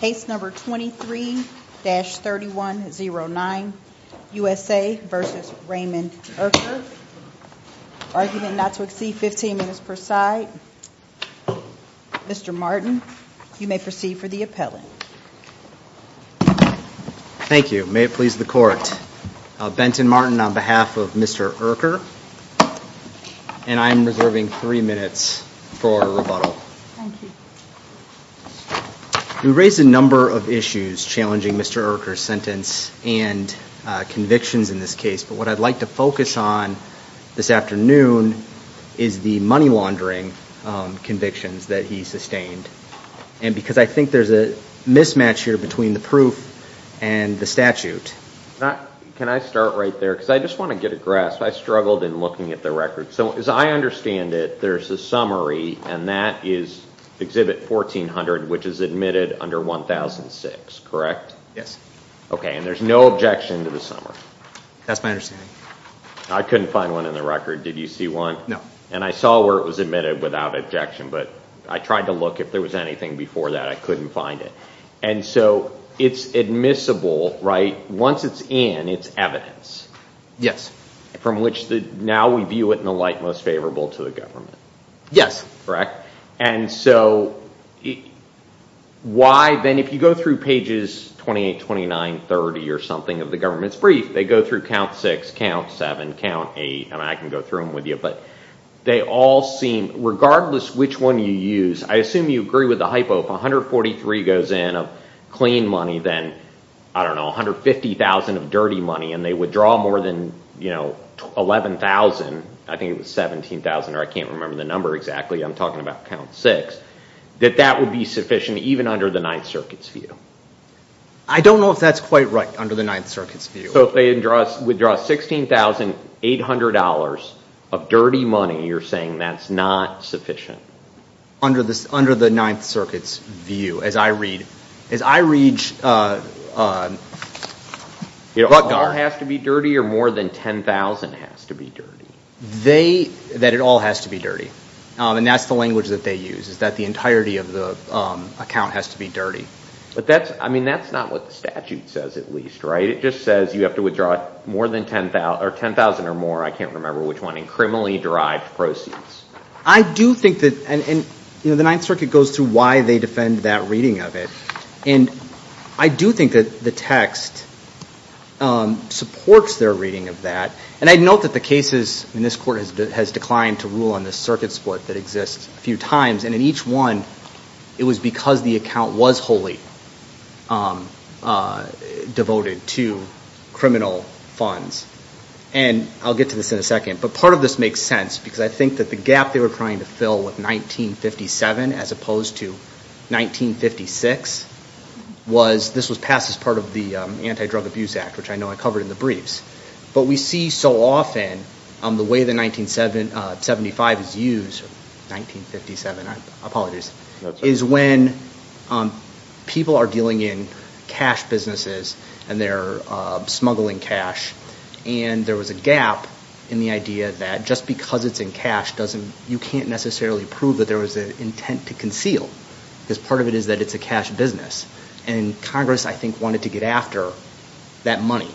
Case number 23-3109 USA versus Raymond Erker. Argument not to exceed 15 minutes per side. Mr. Martin, you may proceed for the appellant. Thank you. May it please the court. Benton Martin on behalf of Mr. Erker and I am reserving three minutes for rebuttal. We raised a number of issues challenging Mr. Erker's sentence and convictions in this case but what I'd like to focus on this afternoon is the money laundering convictions that he sustained and because I think there's a mismatch here between the proof and the statute. Can I start right there because I just want to get a grasp. I struggled in looking at the record so as I understand it there's a summary and that is exhibit 1400 which is admitted under 1006 correct? Yes. Okay and there's no objection to the summary. That's my understanding. I couldn't find one in the record did you see one? No. And I saw where it was admitted without objection but I tried to look if there was anything before that I couldn't find it and so it's admissible right once it's in it's evidence. Yes. From which the now we view it in the light most favorable to the government. Yes. Correct and so why then if you go through pages 28, 29, 30 or something of the government's brief they go through count six, count seven, count eight and I can go through them with you but they all seem regardless which one you use I assume you agree with the hypo if 143 goes in of clean money then I don't know 150,000 of dirty money and they withdraw more than you know 11,000 I think it was 17,000 or I can't remember the number exactly I'm talking about count six that that would be sufficient even under the Ninth Circuit's view. I don't know if that's quite right under the Ninth Circuit's view. So if they didn't draw us withdraw $16,800 of dirty money you're saying that's not sufficient? Under this under the Ninth Circuit's view as I read as I read it all has to be dirty or more than 10,000 has to be dirty? They that it all has to be dirty and that's the language that they use is that the entirety of the account has to be dirty but that's I mean that's not what the statute says at least right it just says you have to withdraw more than 10,000 or 10,000 or more I can't remember which one in criminally derived proceeds. I do think that and you know the Ninth Circuit goes through why they defend that reading of it and I do think that the text supports their reading of that and I'd note that the cases in this court has declined to rule on this circuit split that exists a few times and in each one it was because the account was wholly devoted to criminal funds and I'll get to this in a second but part of this makes sense because I think that the gap they were trying to with 1957 as opposed to 1956 was this was passed as part of the Anti-Drug Abuse Act which I know I covered in the briefs but we see so often on the way the 1975 is used 1957 I apologize is when people are dealing in cash businesses and they're smuggling cash and there was a gap in the idea that just because it's in cash doesn't you can't necessarily prove that there was an intent to conceal as part of it is that it's a cash business and Congress I think wanted to get after that money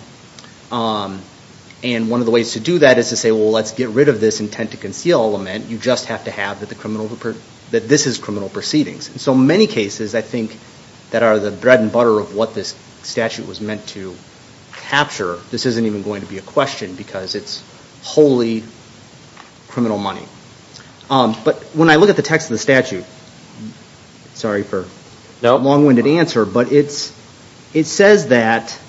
and one of the ways to do that is to say well let's get rid of this intent to conceal lament you just have to have that the criminal report that this is criminal proceedings and so many cases I think that are the bread and butter of what this statute was meant to capture this isn't even going to be a question because it's wholly criminal money but when I look at the text of the statute sorry for now long-winded answer but it's it says that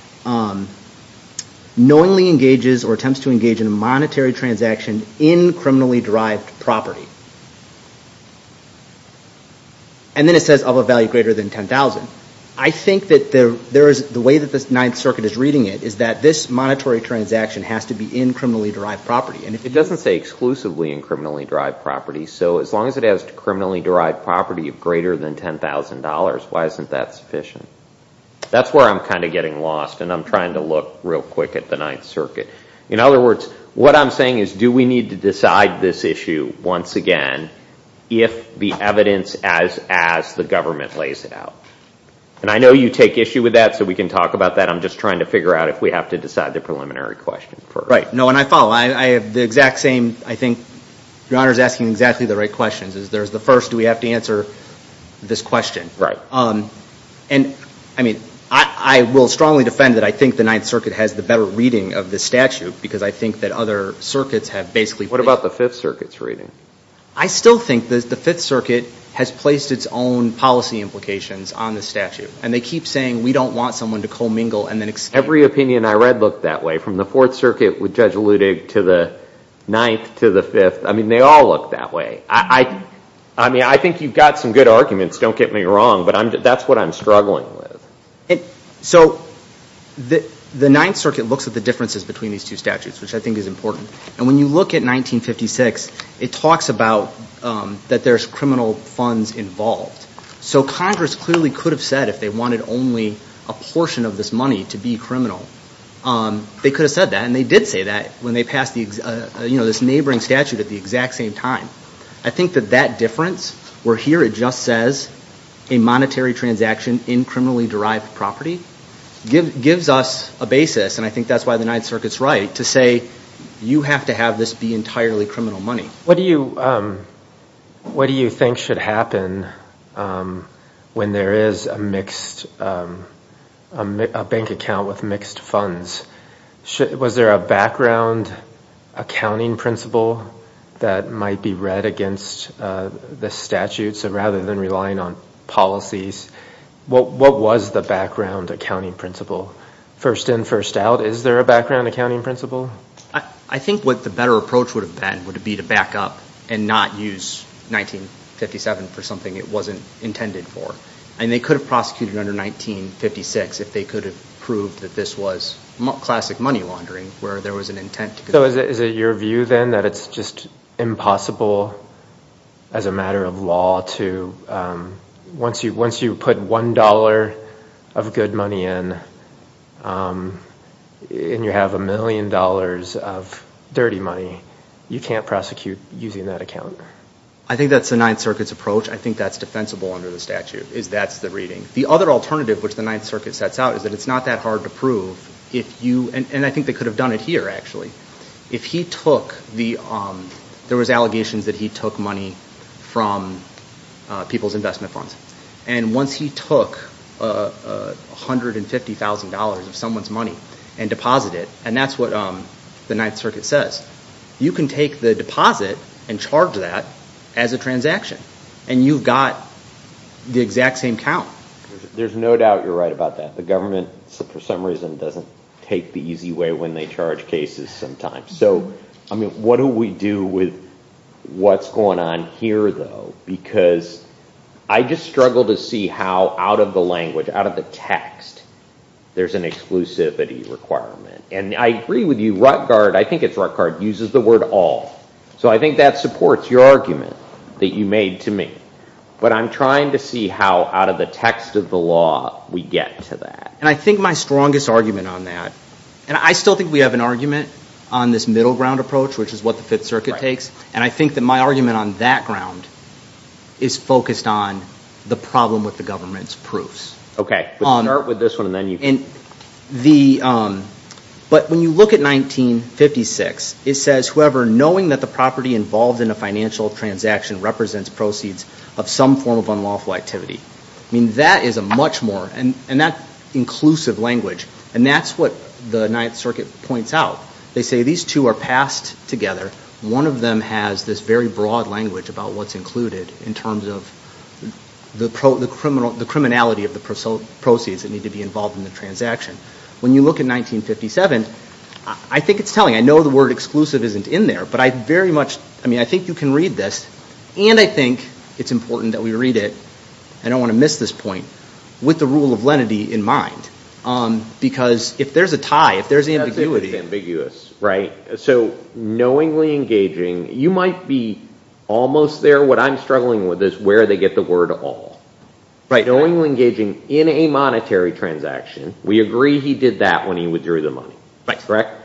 knowingly engages or attempts to engage in a monetary transaction in criminally derived property and then it says of a value greater than 10,000 I think that there there is the way that this ninth circuit is reading it is that this monetary transaction has to be in criminally derived property and if it doesn't say exclusively in criminally derived property so as long as it has to criminally derived property of greater than $10,000 why isn't that sufficient that's where I'm kind of getting lost and I'm trying to look real quick at the Ninth Circuit in other words what I'm saying is do we need to decide this issue once again if the evidence as as the government lays it out and I know you take issue with that so we can talk about that I'm just trying to figure out if we have to decide the preliminary question right no and I follow I have the exact same I think your honor is asking exactly the right questions is there's the first do we have to answer this question right um and I mean I will strongly defend that I think the Ninth Circuit has the better reading of this statute because I think that other circuits have basically what about the Fifth Circuit's reading I still think that the Fifth Circuit has placed its own policy implications on the statute and they keep saying we don't want someone to co-mingle and then it's every opinion I read looked that way from the Fourth Circuit with Judge Ludig to the ninth to the fifth I mean they all look that way I I mean I think you've got some good arguments don't get me wrong but I'm that's what I'm struggling with it so the the Ninth Circuit looks at the differences between these two statutes which I think is important and when you look at 1956 it talks about that there's funds involved so Congress clearly could have said if they wanted only a portion of this money to be criminal um they could have said that and they did say that when they passed the you know this neighboring statute at the exact same time I think that that difference we're here it just says a monetary transaction in criminally derived property give gives us a basis and I think that's why the Ninth Circuit's right to say you have to have this be entirely criminal money what do you what do you think should happen when there is a mixed a bank account with mixed funds shit was there a background accounting principle that might be read against the statute so rather than relying on policies what what was the background accounting principle first in first out is there a background accounting principle I I think what the better approach would have been would it be to back up and not use 1957 for something it wasn't intended for and they could have prosecuted under 1956 if they could have proved that this was classic money laundering where there was an intent so is it your view then that it's just impossible as a matter of law to once you once you put one dollar of good money in and you have a million dollars of dirty money you can't prosecute using that account I think that's the Ninth Circuit's approach I think that's defensible under the statute is that's the reading the other alternative which the Ninth Circuit sets out is that it's not that hard to prove if you and I think they could have done it here actually if he took the there was allegations that he took money from people's investment funds and once he took a hundred and fifty thousand dollars of someone's money and deposited and that's what the Ninth Circuit says you can take the deposit and charge that as a transaction and you've got the exact same count there's no doubt you're right about that the government so for some reason doesn't take the easy way when they charge cases sometimes so I mean what do we do with what's going on here though because I just struggle to see how out of the language out of the text there's an exclusivity requirement and I agree with you Rutgard I think it's our card uses the word all so I think that supports your argument that you made to me but I'm trying to see how out of the text of the law we get to that and I think my strongest argument on that and I still think we have an argument on this middle ground approach which is what the Fifth Circuit takes and I think that my argument on that ground is focused on the problem with the government's proofs okay on earth with this one and then you in the but when you look at 1956 it says whoever knowing that the property involved in a financial transaction represents proceeds of some form of unlawful activity I mean that is a much more and and that inclusive language and that's what the Ninth Circuit points out they say these two are passed together one of them has this very broad language about what's included in terms of the pro the criminal the criminality of the pursuit proceeds that need to be involved in the transaction when you look at 1957 I think it's telling I know the word exclusive isn't in there but I very much I mean I think you can read this and I think it's important that we read it I don't want to miss this point with the rule of lenity in mind on because if there's a tie if there's ambiguous right so knowingly engaging you might be almost there what I'm struggling with is where they get the word of all right knowingly engaging in a monetary transaction we agree he did that when he withdrew the money thanks correct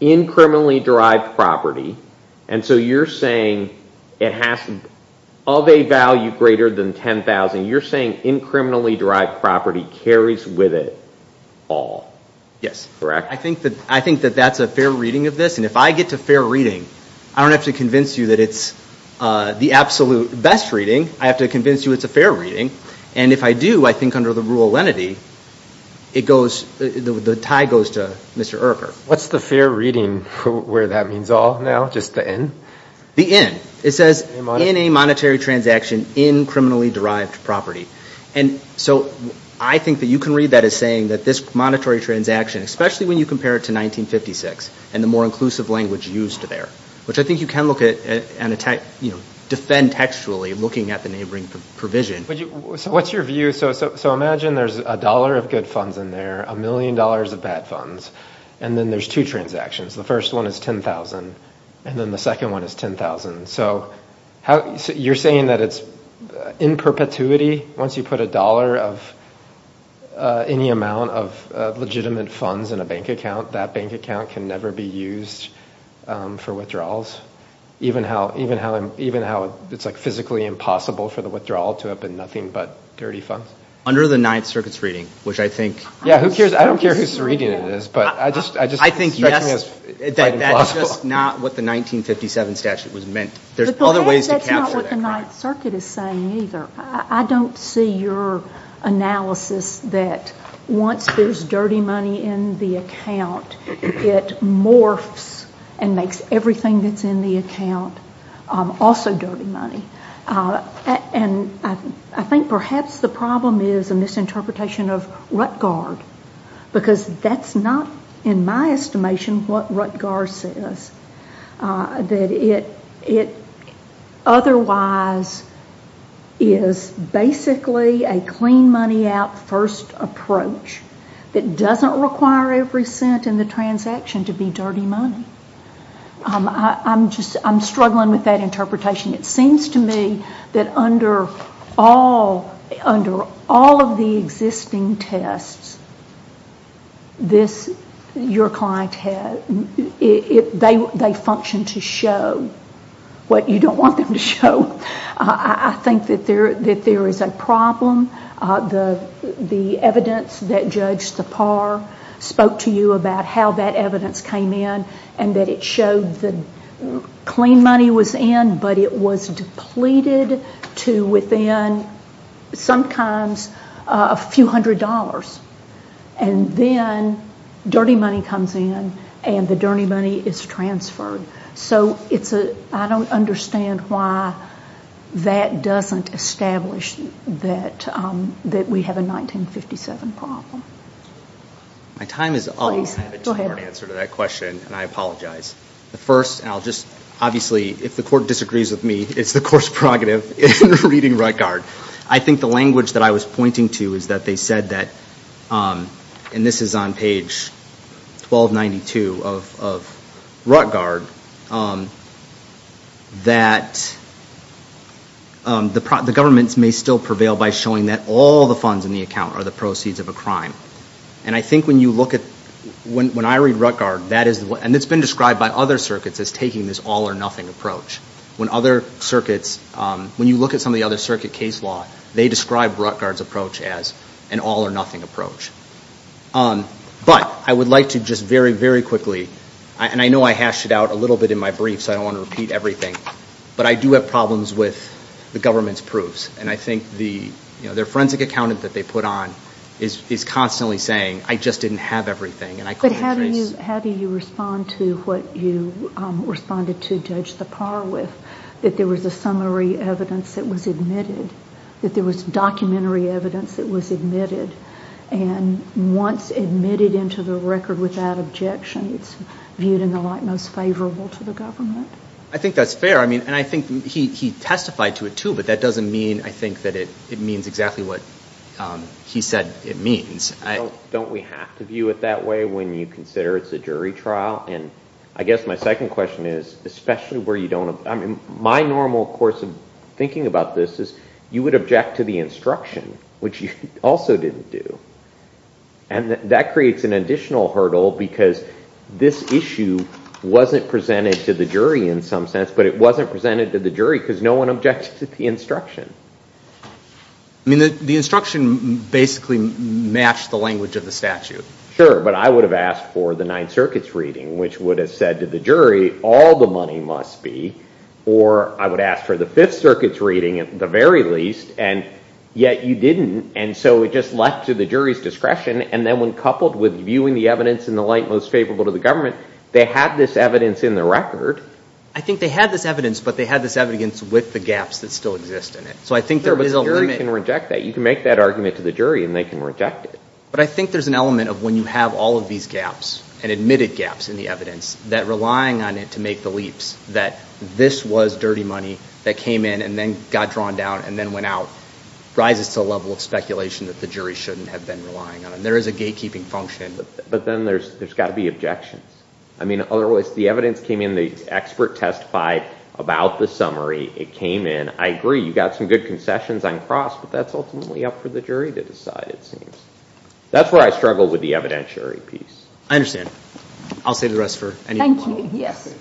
in criminally derived property and so you're saying it has of a value greater than 10,000 you're saying in criminally derived property carries with it all yes correct I think that I think that that's a fair reading of this and if I get to fair reading I don't have to convince you that it's the absolute best reading I have to convince you it's a fair reading and if I do I think under the rule of lenity it goes the tie goes to mr. Irker what's the fair reading where that means all now just the end the end it says in a monetary transaction in criminally derived property and so I think that you can read that as saying that this monetary transaction especially when you compare it to 1956 and the more inclusive language used to there which I think you can look at and attack you know defend textually looking at the neighboring provision what's your view so imagine there's a dollar of good funds in there a million dollars of bad funds and then there's two transactions the first one is 10,000 and then the one is 10,000 so how you're saying that it's in perpetuity once you put a dollar of any amount of legitimate funds in a bank account that bank account can never be used for withdrawals even how even how I'm even how it's like physically impossible for the withdrawal to have been nothing but dirty funds under the Ninth Circuit's reading which I think yeah who cares I don't care who's reading it is but I just I just I think yes it's not what the 1957 statute was meant there's other ways to calculate the Ninth Circuit is saying either I don't see your analysis that once there's dirty money in the account it morphs and makes everything that's in the account also dirty money and I think perhaps the problem is a misinterpretation of Ruttgard because that's not in my estimation what Ruttgard says that it it otherwise is basically a clean money out first approach that doesn't require every cent in the transaction to be dirty money I'm just I'm struggling with that interpretation it seems to me that under all under all of the existing tests this your client had it they functioned to show what you don't want them to show I think that there that there is a problem the the evidence that judge the par spoke to you about how that evidence came in and that it showed the clean money was in but it was depleted to within sometimes a few hundred dollars and then dirty money comes in and the dirty money is transferred so it's a I don't understand why that doesn't establish that that we have a 1957 problem my time is always answered that question and I apologize the first and I'll just obviously if the judge agrees with me it's the course prerogative in reading Ruttgard I think the language that I was pointing to is that they said that and this is on page 1292 of Ruttgard that the government's may still prevail by showing that all the funds in the account are the proceeds of a crime and I think when you look at when I read Ruttgard that is what and it's been described by other circuits is taking this all-or-nothing approach when other circuits when you look at some of the other circuit case law they describe Ruttgard's approach as an all-or-nothing approach but I would like to just very very quickly and I know I hashed it out a little bit in my brief so I don't want to repeat everything but I do have problems with the government's proofs and I think the you know their forensic accountant that they put on is is constantly saying I just didn't have everything and I could how do you how do you respond to what you responded to judge the par with that there was a summary evidence that was admitted that there was documentary evidence that was admitted and once admitted into the record without objection it's viewed in the light most favorable to the government I think that's fair I mean and I think he testified to it too but that doesn't mean I think that it it means exactly what he said it means I don't we have to view it that way when you consider it's a jury trial and I guess my second question is especially where you don't have I mean my normal course of thinking about this is you would object to the instruction which you also didn't do and that creates an additional hurdle because this issue wasn't presented to the jury in some sense but it wasn't presented to the jury because no one objected to the instruction I mean the instruction basically matched the language of the statute sure but I would have asked for the Ninth Circuit's reading which would have said to the jury all the money must be or I would ask for the Fifth Circuit's reading at the very least and yet you didn't and so it just left to the jury's discretion and then when coupled with viewing the evidence in the light most favorable to the government they had this evidence in the record I think they had this evidence but they had this evidence with the gaps that still exist in it so I think there is a limit and reject that you can make that argument to the jury and they can reject it but I think there's an element of when you have all of these gaps and admitted gaps in the evidence that relying on it to make the leaps that this was dirty money that came in and then got drawn down and then went out rises to a level of speculation that the jury shouldn't have been relying on and there is a gatekeeping function but then there's there's got to be objections I mean otherwise the evidence came in the expert testified about the summary it came in I agree you got some good concessions on cross but that's ultimately up for the jury to decide it seems that's where I struggle with the evidentiary piece I understand I'll say the rest for thank you yes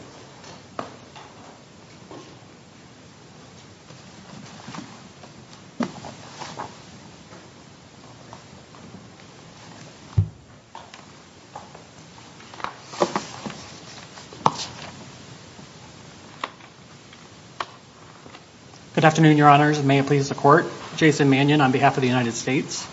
good afternoon your honors may it please the court Jason Mannion on behalf of the United States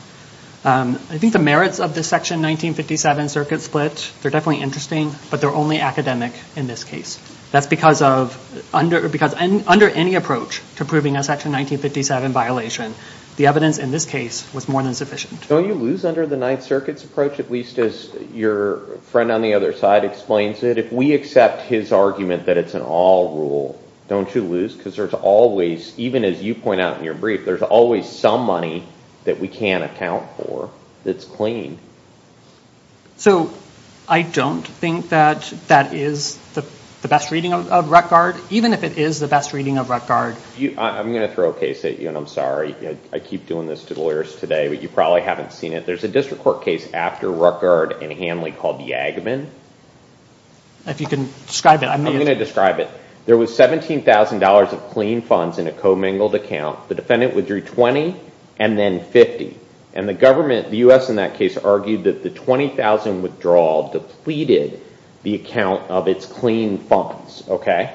I think the merits of this section 1957 circuit split they're definitely interesting but they're only academic in this case that's because of under because and under any approach to proving a section 1957 violation the evidence in this case was more than sufficient don't you lose under the Ninth Circuit's approach at least as your friend on the other side explains it if we accept his argument that it's an all rule don't you lose because there's always even as you point out in your brief there's always some money that we can't account for that's clean so I don't think that that is the best reading of record even if it is the best reading of record you I'm gonna throw a case at you and I'm sorry I keep doing this to lawyers today but you probably haven't seen it there's a district court case after record and Lee called the Agaman if you can describe it I'm gonna describe it there was $17,000 of clean funds in a commingled account the defendant withdrew 20 and then 50 and the government the u.s. in that case argued that the 20,000 withdrawal depleted the account of its clean funds okay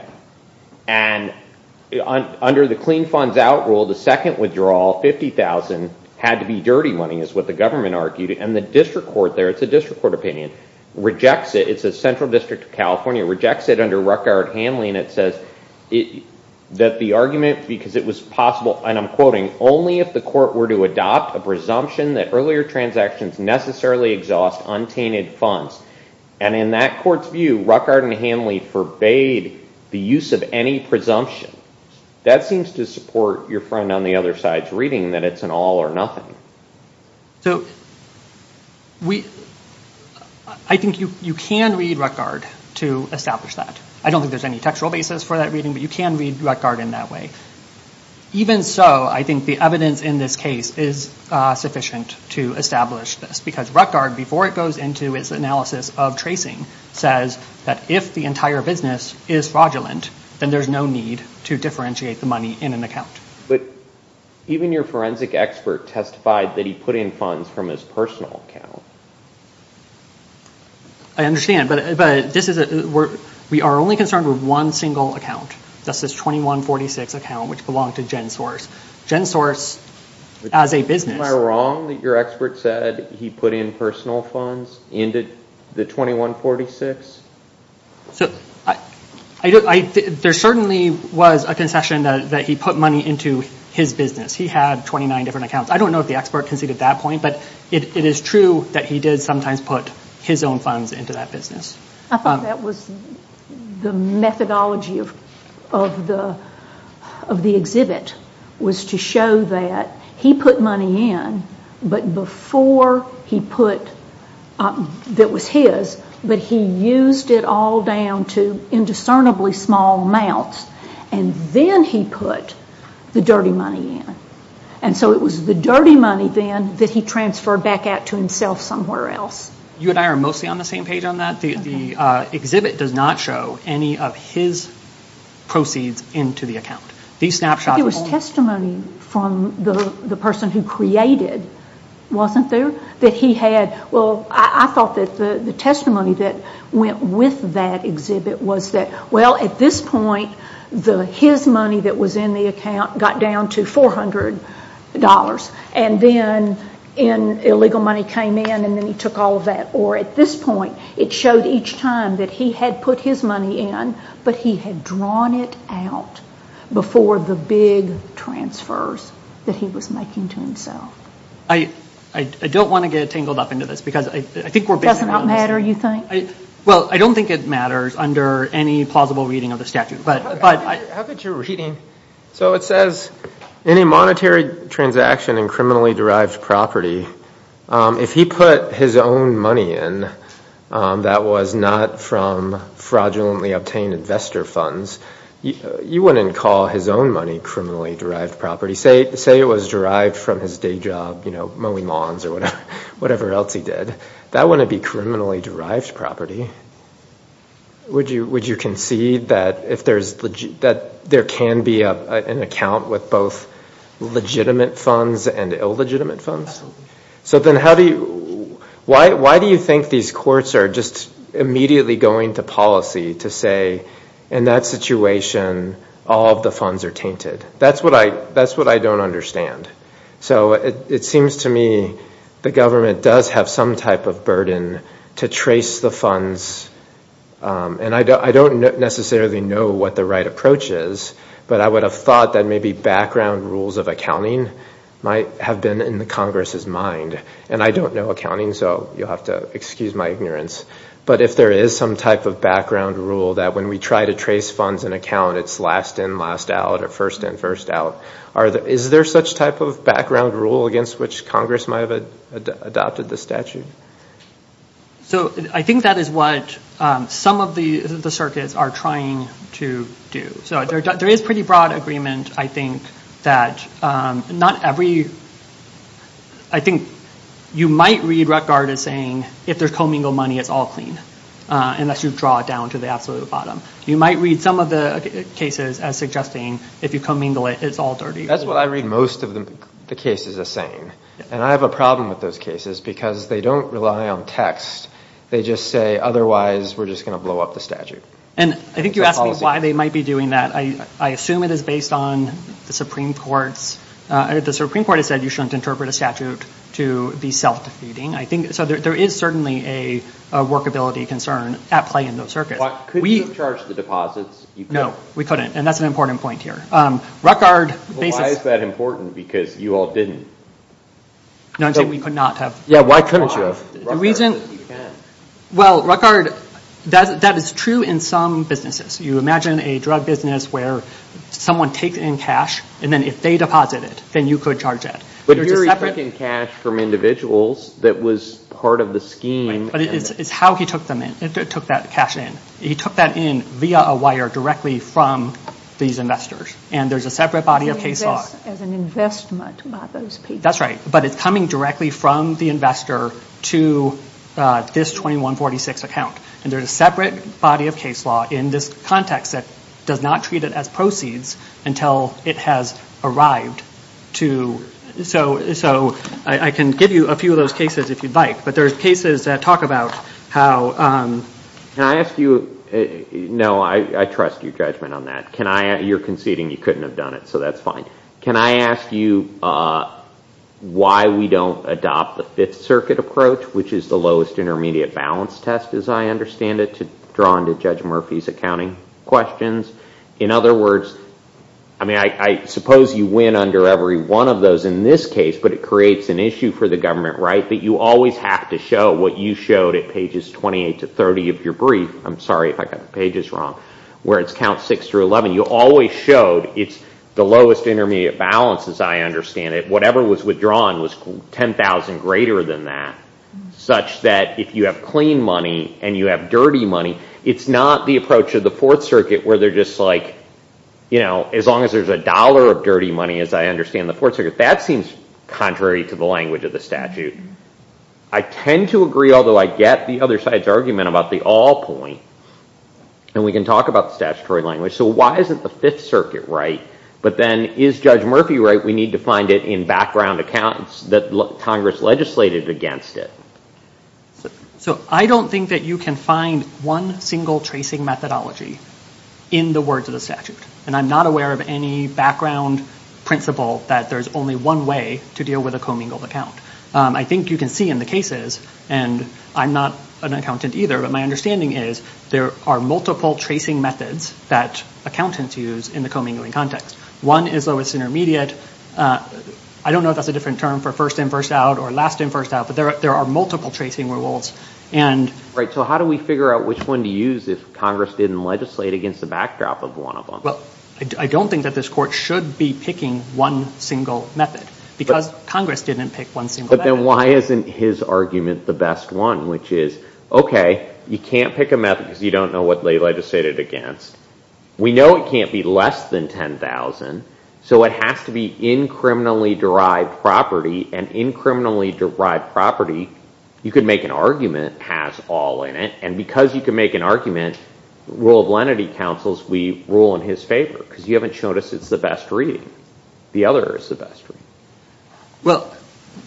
and under the clean funds out rule the second withdrawal 50,000 had to be dirty money is what the argued and the district court there it's a district court opinion rejects it it's a central district of California rejects it under Ruckert handling it says it that the argument because it was possible and I'm quoting only if the court were to adopt a presumption that earlier transactions necessarily exhaust untainted funds and in that court's view Ruckert and Hanley forbade the use of any presumption that seems to support your friend on the other side's reading that it's an all-or-nothing so we I think you you can read record to establish that I don't think there's any textual basis for that reading but you can read record in that way even so I think the evidence in this case is sufficient to establish this because record before it goes into its analysis of tracing says that if the entire business is fraudulent then there's no need to differentiate the money in an account but even your forensic expert testified that he put in funds from his personal account I understand but but this is a we're we are only concerned with one single account that's this 2146 account which belonged to gen source gen source as a business wrong that your expert said he put in personal funds into the 2146 so I I don't I there's certainly was a concession that he put money into his business he had 29 different accounts I don't know if the expert can see at that point but it is true that he did sometimes put his own funds into that business I thought that was the methodology of of the of the exhibit was to show that he put money in but before he put that was his but he used it all down to indiscernibly small amounts and then he put the dirty money in and so it was the dirty money then that he transferred back out to himself somewhere else you and I are mostly on the same page on that the exhibit does not show any of his proceeds into the account these snapshots it was testimony from the the person who created wasn't there that he had well I thought that the the testimony that went with that was that well at this point the his money that was in the account got down to $400 and then in illegal money came in and then he took all of that or at this point it showed each time that he had put his money in but he had drawn it out before the big transfers that he was making to himself I I don't want to get tangled up into this because I think we're better you think I well I don't think it matters under any plausible reading of the statute but but I have that you're reading so it says any monetary transaction and criminally derived property if he put his own money in that was not from fraudulently obtained investor funds you wouldn't call his own money criminally derived property say say it was derived from his day job you know mowing lawns or whatever else he did that wouldn't be criminally derived property would you would you concede that if there's that there can be an account with both legitimate funds and illegitimate funds so then how do you why do you think these courts are just immediately going to policy to say in that situation all of the funds are tainted that's what I that's what I don't understand so it seems to me the government does have some type of burden to trace the funds and I don't necessarily know what the right approach is but I would have thought that maybe background rules of accounting might have been in the Congress's mind and I don't know accounting so you'll have to excuse my ignorance but if there is some type of background rule that when we try to trace funds and account it's last in last out or first in first out are there is there such type of background rule against which Congress might have adopted the statute so I think that is what some of the the circuits are trying to do so there is pretty broad agreement I think that not every I think you might read Rutgard is saying if there's commingle money it's all clean unless you've draw it down to the absolute bottom you might read some of the cases as suggesting if you commingle it it's all dirty that's what I read most of them the case is a saying and I have a problem with those cases because they don't rely on text they just say otherwise we're just gonna blow up the statute and I think you asked why they might be doing that I assume it is based on the Supreme Court's the Supreme Court has said you shouldn't interpret a statute to be self-defeating I think so there is certainly a workability concern at play in those circuits we charge the no we couldn't and that's an important point here Rutgard basis that important because you all didn't know we could not have yeah why couldn't you reason well record that that is true in some businesses you imagine a drug business where someone takes in cash and then if they deposit it then you could charge it but you're taking cash from individuals that was part of the scheme but it's how he took them in it took that cash in he took that in via a wire directly from these investors and there's a separate body of case as an investment that's right but it's coming directly from the investor to this 2146 account and there's a separate body of case law in this context that does not treat it as proceeds until it has arrived to so so I can give you a few of those cases if you'd like but there's cases that talk about how can I ask you no I trust your judgment on that can I add you're conceding you couldn't have done it so that's fine can I ask you why we don't adopt the Fifth Circuit approach which is the lowest intermediate balance test as I understand it to drawn to judge Murphy's accounting questions in other words I mean I suppose you win under every one of those in this case but it creates an issue for the government right that you always have to show what you showed at pages 28 to 30 of your brief I'm sorry if I got pages wrong where it's count 6 through 11 you always showed it's the lowest intermediate balance as I understand it whatever was withdrawn was 10,000 greater than that such that if you have clean money and you have dirty money it's not the approach of the Fourth Circuit where they're just like you know as long as there's a dollar of dirty money as I understand the fourth circuit that seems contrary to the language of the statute I tend to agree although I get the other side's argument about the all point and we can talk about the statutory language so why isn't the Fifth Circuit right but then is judge Murphy right we need to find it in background accounts that look Congress legislated against it so I don't think that you can find one single tracing methodology in the words of the statute and I'm not aware of any background principle that there's only one way to deal with a commingled account I think you can see in the cases and I'm not an accountant either but my understanding is there are multiple tracing methods that accountants use in the commingling context one is lowest intermediate I don't know that's a different term for first in first out or last in first out but there are multiple tracing rules and right so how do we figure out which one to use if Congress didn't legislate against the backdrop of one of them well I don't think that this court should be picking one single method because Congress didn't pick one single method. But then why isn't his argument the best one which is okay you can't pick a method because you don't know what they legislated against we know it can't be less than 10,000 so it has to be in criminally derived property and in criminally derived property you could make an argument has all in it and because you can make an argument rule of lenity counsels we rule in his favor because you haven't shown us it's the best reading the other is the best. Well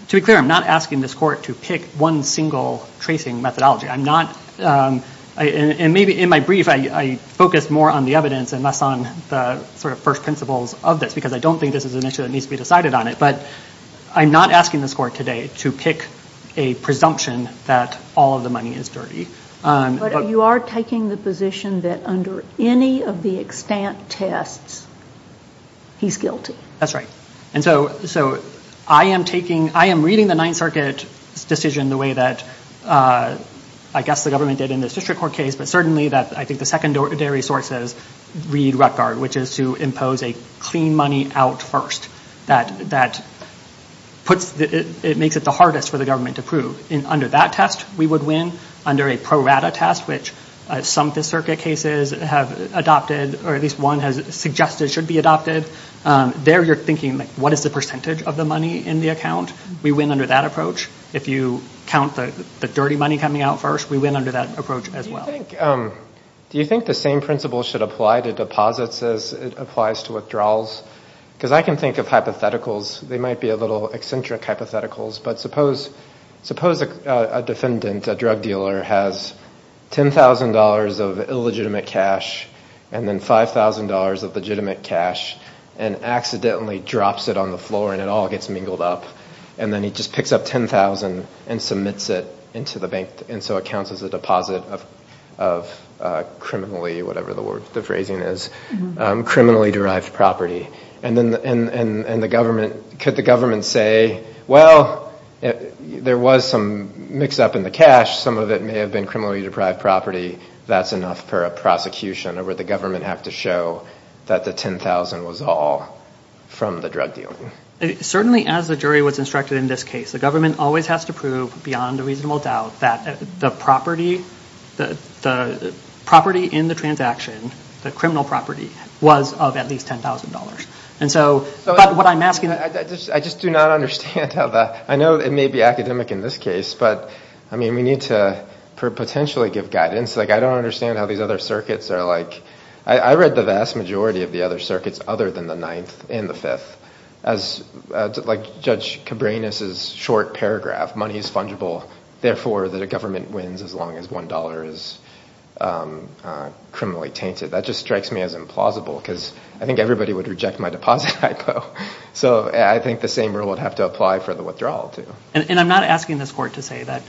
to be clear I'm not asking this court to pick one single tracing methodology I'm not and maybe in my brief I focused more on the evidence and less on the sort of first principles of this because I don't think this is an issue that needs to be decided on it but I'm not asking this court today to pick a presumption that all of the money is dirty. But you are taking the position that under any of the extant tests he's guilty. That's right and so so I am taking I am reading the Ninth Circuit decision the way that I guess the government did in this district court case but certainly that I think the secondary sources read Rutgard which is to impose a clean money out first that that puts that it makes it the hardest for the government to prove in under that test we would win under a pro rata test which some Fifth Circuit cases have adopted or at least one has suggested should be adopted there you're thinking like what is the percentage of the money in the account we win under that approach if you count the dirty money coming out first we win under that approach as well. Do you think the same principle should apply to deposits as it applies to withdrawals because I can think of hypotheticals they might be a little eccentric hypotheticals but suppose suppose a defendant a drug dealer has ten thousand dollars of illegitimate cash and then five thousand dollars of legitimate cash and accidentally drops it on the floor and it all gets mingled up and then he just picks up ten thousand and submits it into the bank and so it counts as a deposit of criminally whatever the word the phrasing is criminally derived property and then and and and the could the government say well there was some mix-up in the cash some of it may have been criminally deprived property that's enough for a prosecution or would the government have to show that the ten thousand was all from the drug dealing certainly as the jury was instructed in this case the government always has to prove beyond a reasonable doubt that the property the property in the transaction the criminal property was of at least ten thousand dollars and so but what I'm asking I just do not understand how that I know it may be academic in this case but I mean we need to potentially give guidance like I don't understand how these other circuits are like I read the vast majority of the other circuits other than the ninth and the fifth as like judge Cabrini's is short paragraph money is fungible therefore that a government wins as long as one dollar is criminally tainted that just strikes me as plausible because I think everybody would reject my deposit so I think the same rule would have to apply for the withdrawal to and I'm not asking this court to say that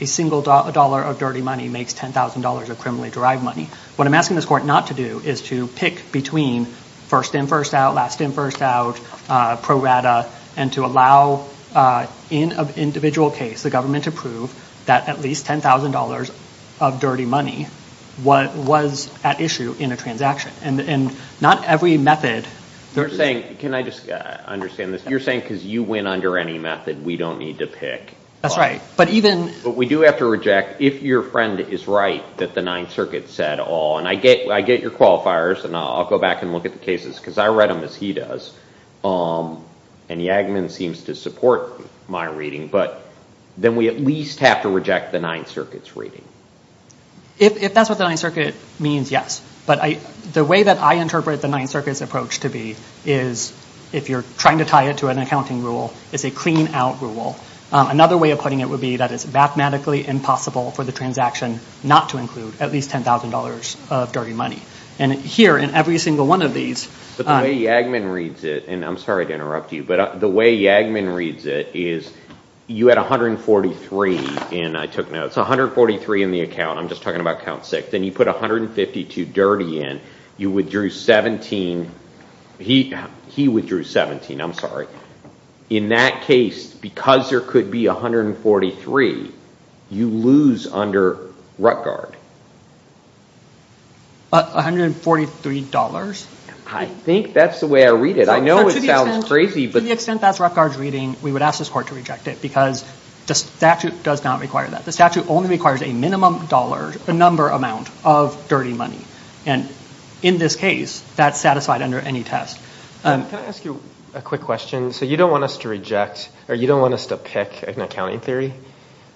a single dollar of dirty money makes ten thousand dollars of criminally derived money what I'm asking this court not to do is to pick between first in first out last in first out pro rata and to allow in an individual case the government to prove that at least ten thousand dollars of dirty money what was at issue in a transaction and not every method they're saying can I just understand this you're saying because you win under any method we don't need to pick that's right but even but we do have to reject if your friend is right that the Ninth Circuit said all and I get I get your qualifiers and I'll go back and look at the cases because I read them as he does and Yagmin seems to support my reading but then we at least have to reject the Ninth Circuit's reading if that's what the Ninth Circuit means yes but I the way that I interpret the Ninth Circuit's approach to be is if you're trying to tie it to an accounting rule it's a clean-out rule another way of putting it would be that it's mathematically impossible for the transaction not to include at least ten thousand dollars of dirty money and here in every single one of these but the way Yagmin reads it and I'm sorry to interrupt you but the way Yagmin reads it is you had a hundred and forty three and I took notes a hundred forty three in the account I'm just talking about count six then you put a hundred and fifty two dirty in you withdrew seventeen he he withdrew seventeen I'm sorry in that case because there could be a hundred and forty three you lose under Rutgard a hundred and forty three dollars I think that's the way I would ask this court to reject it because the statute does not require that the statute only requires a minimum dollar a number amount of dirty money and in this case that's satisfied under any test. Can I ask you a quick question so you don't want us to reject or you don't want us to pick an accounting theory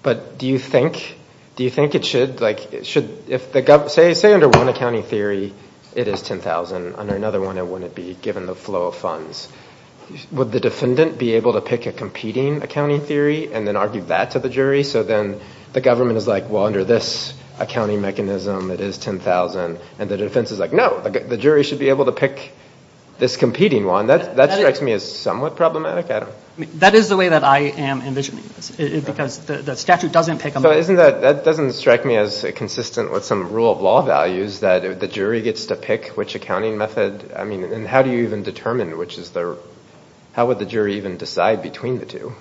but do you think do you think it should like it should if the government say under one accounting theory it is ten thousand under another one it wouldn't be given the flow of funds would the defendant be able to pick a competing accounting theory and then argue that to the jury so then the government is like well under this accounting mechanism it is ten thousand and the defense is like no the jury should be able to pick this competing one that's that strikes me as somewhat problematic. That is the way that I am envisioning it because the statute doesn't pick them. Isn't that that doesn't strike me as consistent with some rule of law values that if the jury gets to pick which accounting method I mean and how do you even determine which is there how would the jury even decide between the two?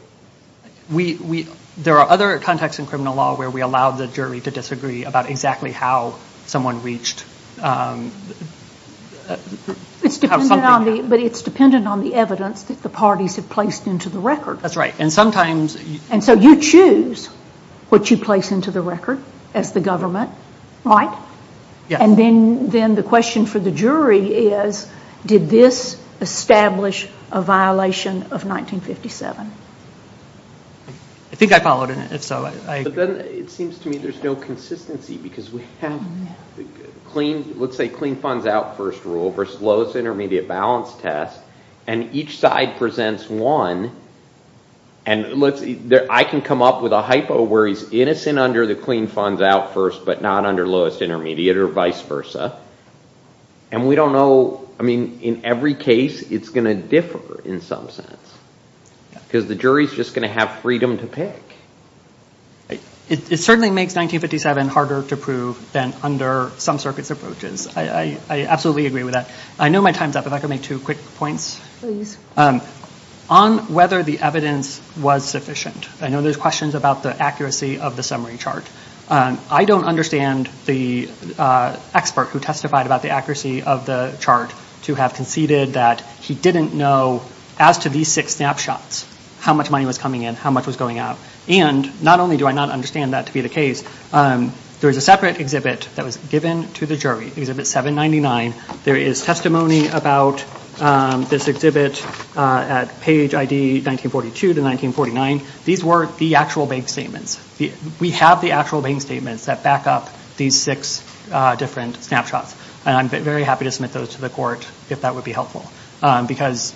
We there are other contexts in criminal law where we allow the jury to disagree about exactly how someone reached. It's dependent on the but it's dependent on the evidence that the parties have placed into the record. That's right and sometimes. And so you choose what you place into the record as the government right? Yeah. And then then the question for the jury is did this establish a violation of 1957? I think I followed in it so it seems to me there's no consistency because we have clean let's say clean funds out first rule versus lowest intermediate balance test and each side presents one and let's see there I can come up with a hypo where he's innocent under the clean funds out first but not under lowest intermediate or vice versa and we don't know I mean in every case it's gonna differ in some sense because the jury's just gonna have freedom to pick. It certainly makes 1957 harder to prove than under some circuits approaches. I absolutely agree with that. I know my time's up if I could make two quick points on whether the evidence was sufficient. I know there's questions about the accuracy of the summary chart. I don't understand the expert who testified about the accuracy of the chart to have conceded that he didn't know as to these six snapshots how much money was coming in how much was going out and not only do I not understand that to be the case there is a separate exhibit that was given to the jury exhibit 799 there is testimony about this exhibit at page ID 1942 to 1949 these were the actual bank statements we have the actual bank statements that back up these six different snapshots and I'm very happy to submit those to the court if that would be helpful because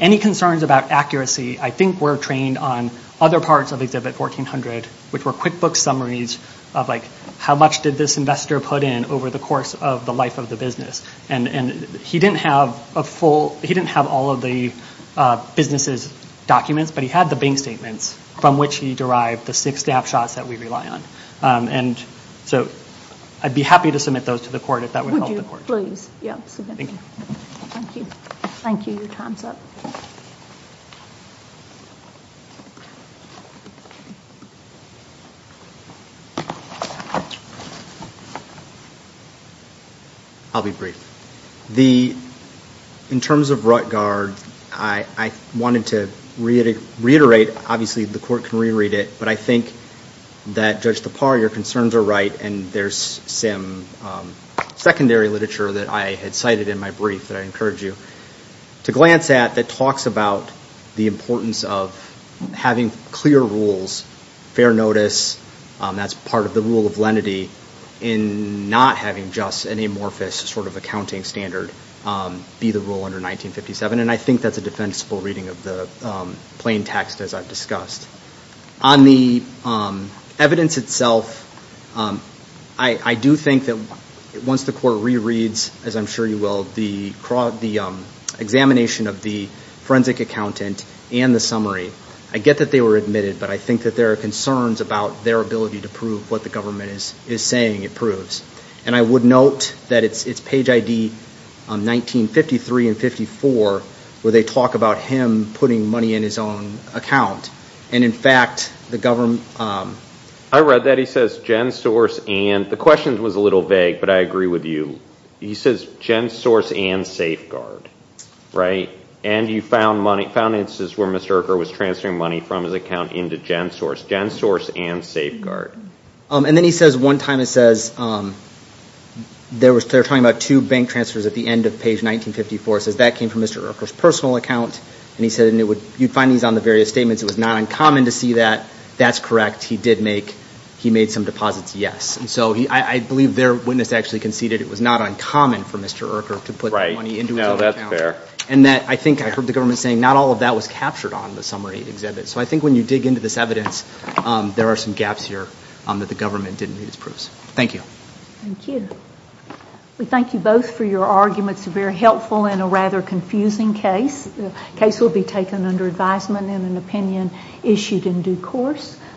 any concerns about accuracy I think we're trained on other parts of exhibit 1400 which were QuickBooks summaries of like how much did this investor put in over the course of the life of the business and and he didn't have a full he didn't have all of the businesses documents but he had the bank statements from which he derived the six snapshots that we rely on and so I'd be happy to submit those to the court if that would help the court. Thank you. Thank you. Thank you. Your time's up. I'll be brief. The in terms of Ruttgard I wanted to reiterate obviously the court can reread it but I think that Judge Tappar your concerns are right and there's some secondary literature that I had cited in my brief that I encourage you to glance at that talks about the importance of having clear rules fair notice that's part of the rule of lenity in not having just an amorphous sort of accounting standard be the rule under 1957 and I think that's a defensible reading of the plain text as I've discussed. On the evidence itself I do think that once the court rereads as I'm sure you will the examination of the forensic accountant and the summary I get that they were admitted but I think that there are concerns about their ability to prove what the government is saying it proves and I would note that it's page ID 1953 and 54 where they talk about him putting money in his own account and in fact the government... I read that he says GenSource and the question was a little vague but I agree with you he says GenSource and Safeguard right and you found money found instances where Mr. Urquhart was transferring money from his account into GenSource. GenSource and Safeguard. And then he says one time it says there was they're talking about two bank transfers at the end of page 1954 says that came from Mr. Urquhart's personal account and he said and it would you'd find these on the various statements it was not uncommon to see that that's correct he did make he made some deposits yes and so he I believe their witness actually conceded it was not uncommon for Mr. Urquhart to put money into his own account. And that I think I heard the government saying not all of that was captured on the summary exhibit so I think when you dig into this evidence there are some gaps here that the government didn't read his proofs. Thank you. Thank you. We thank you both for your arguments very helpful in a rather confusing case. The case will be taken under advisement and an opinion issued in due course.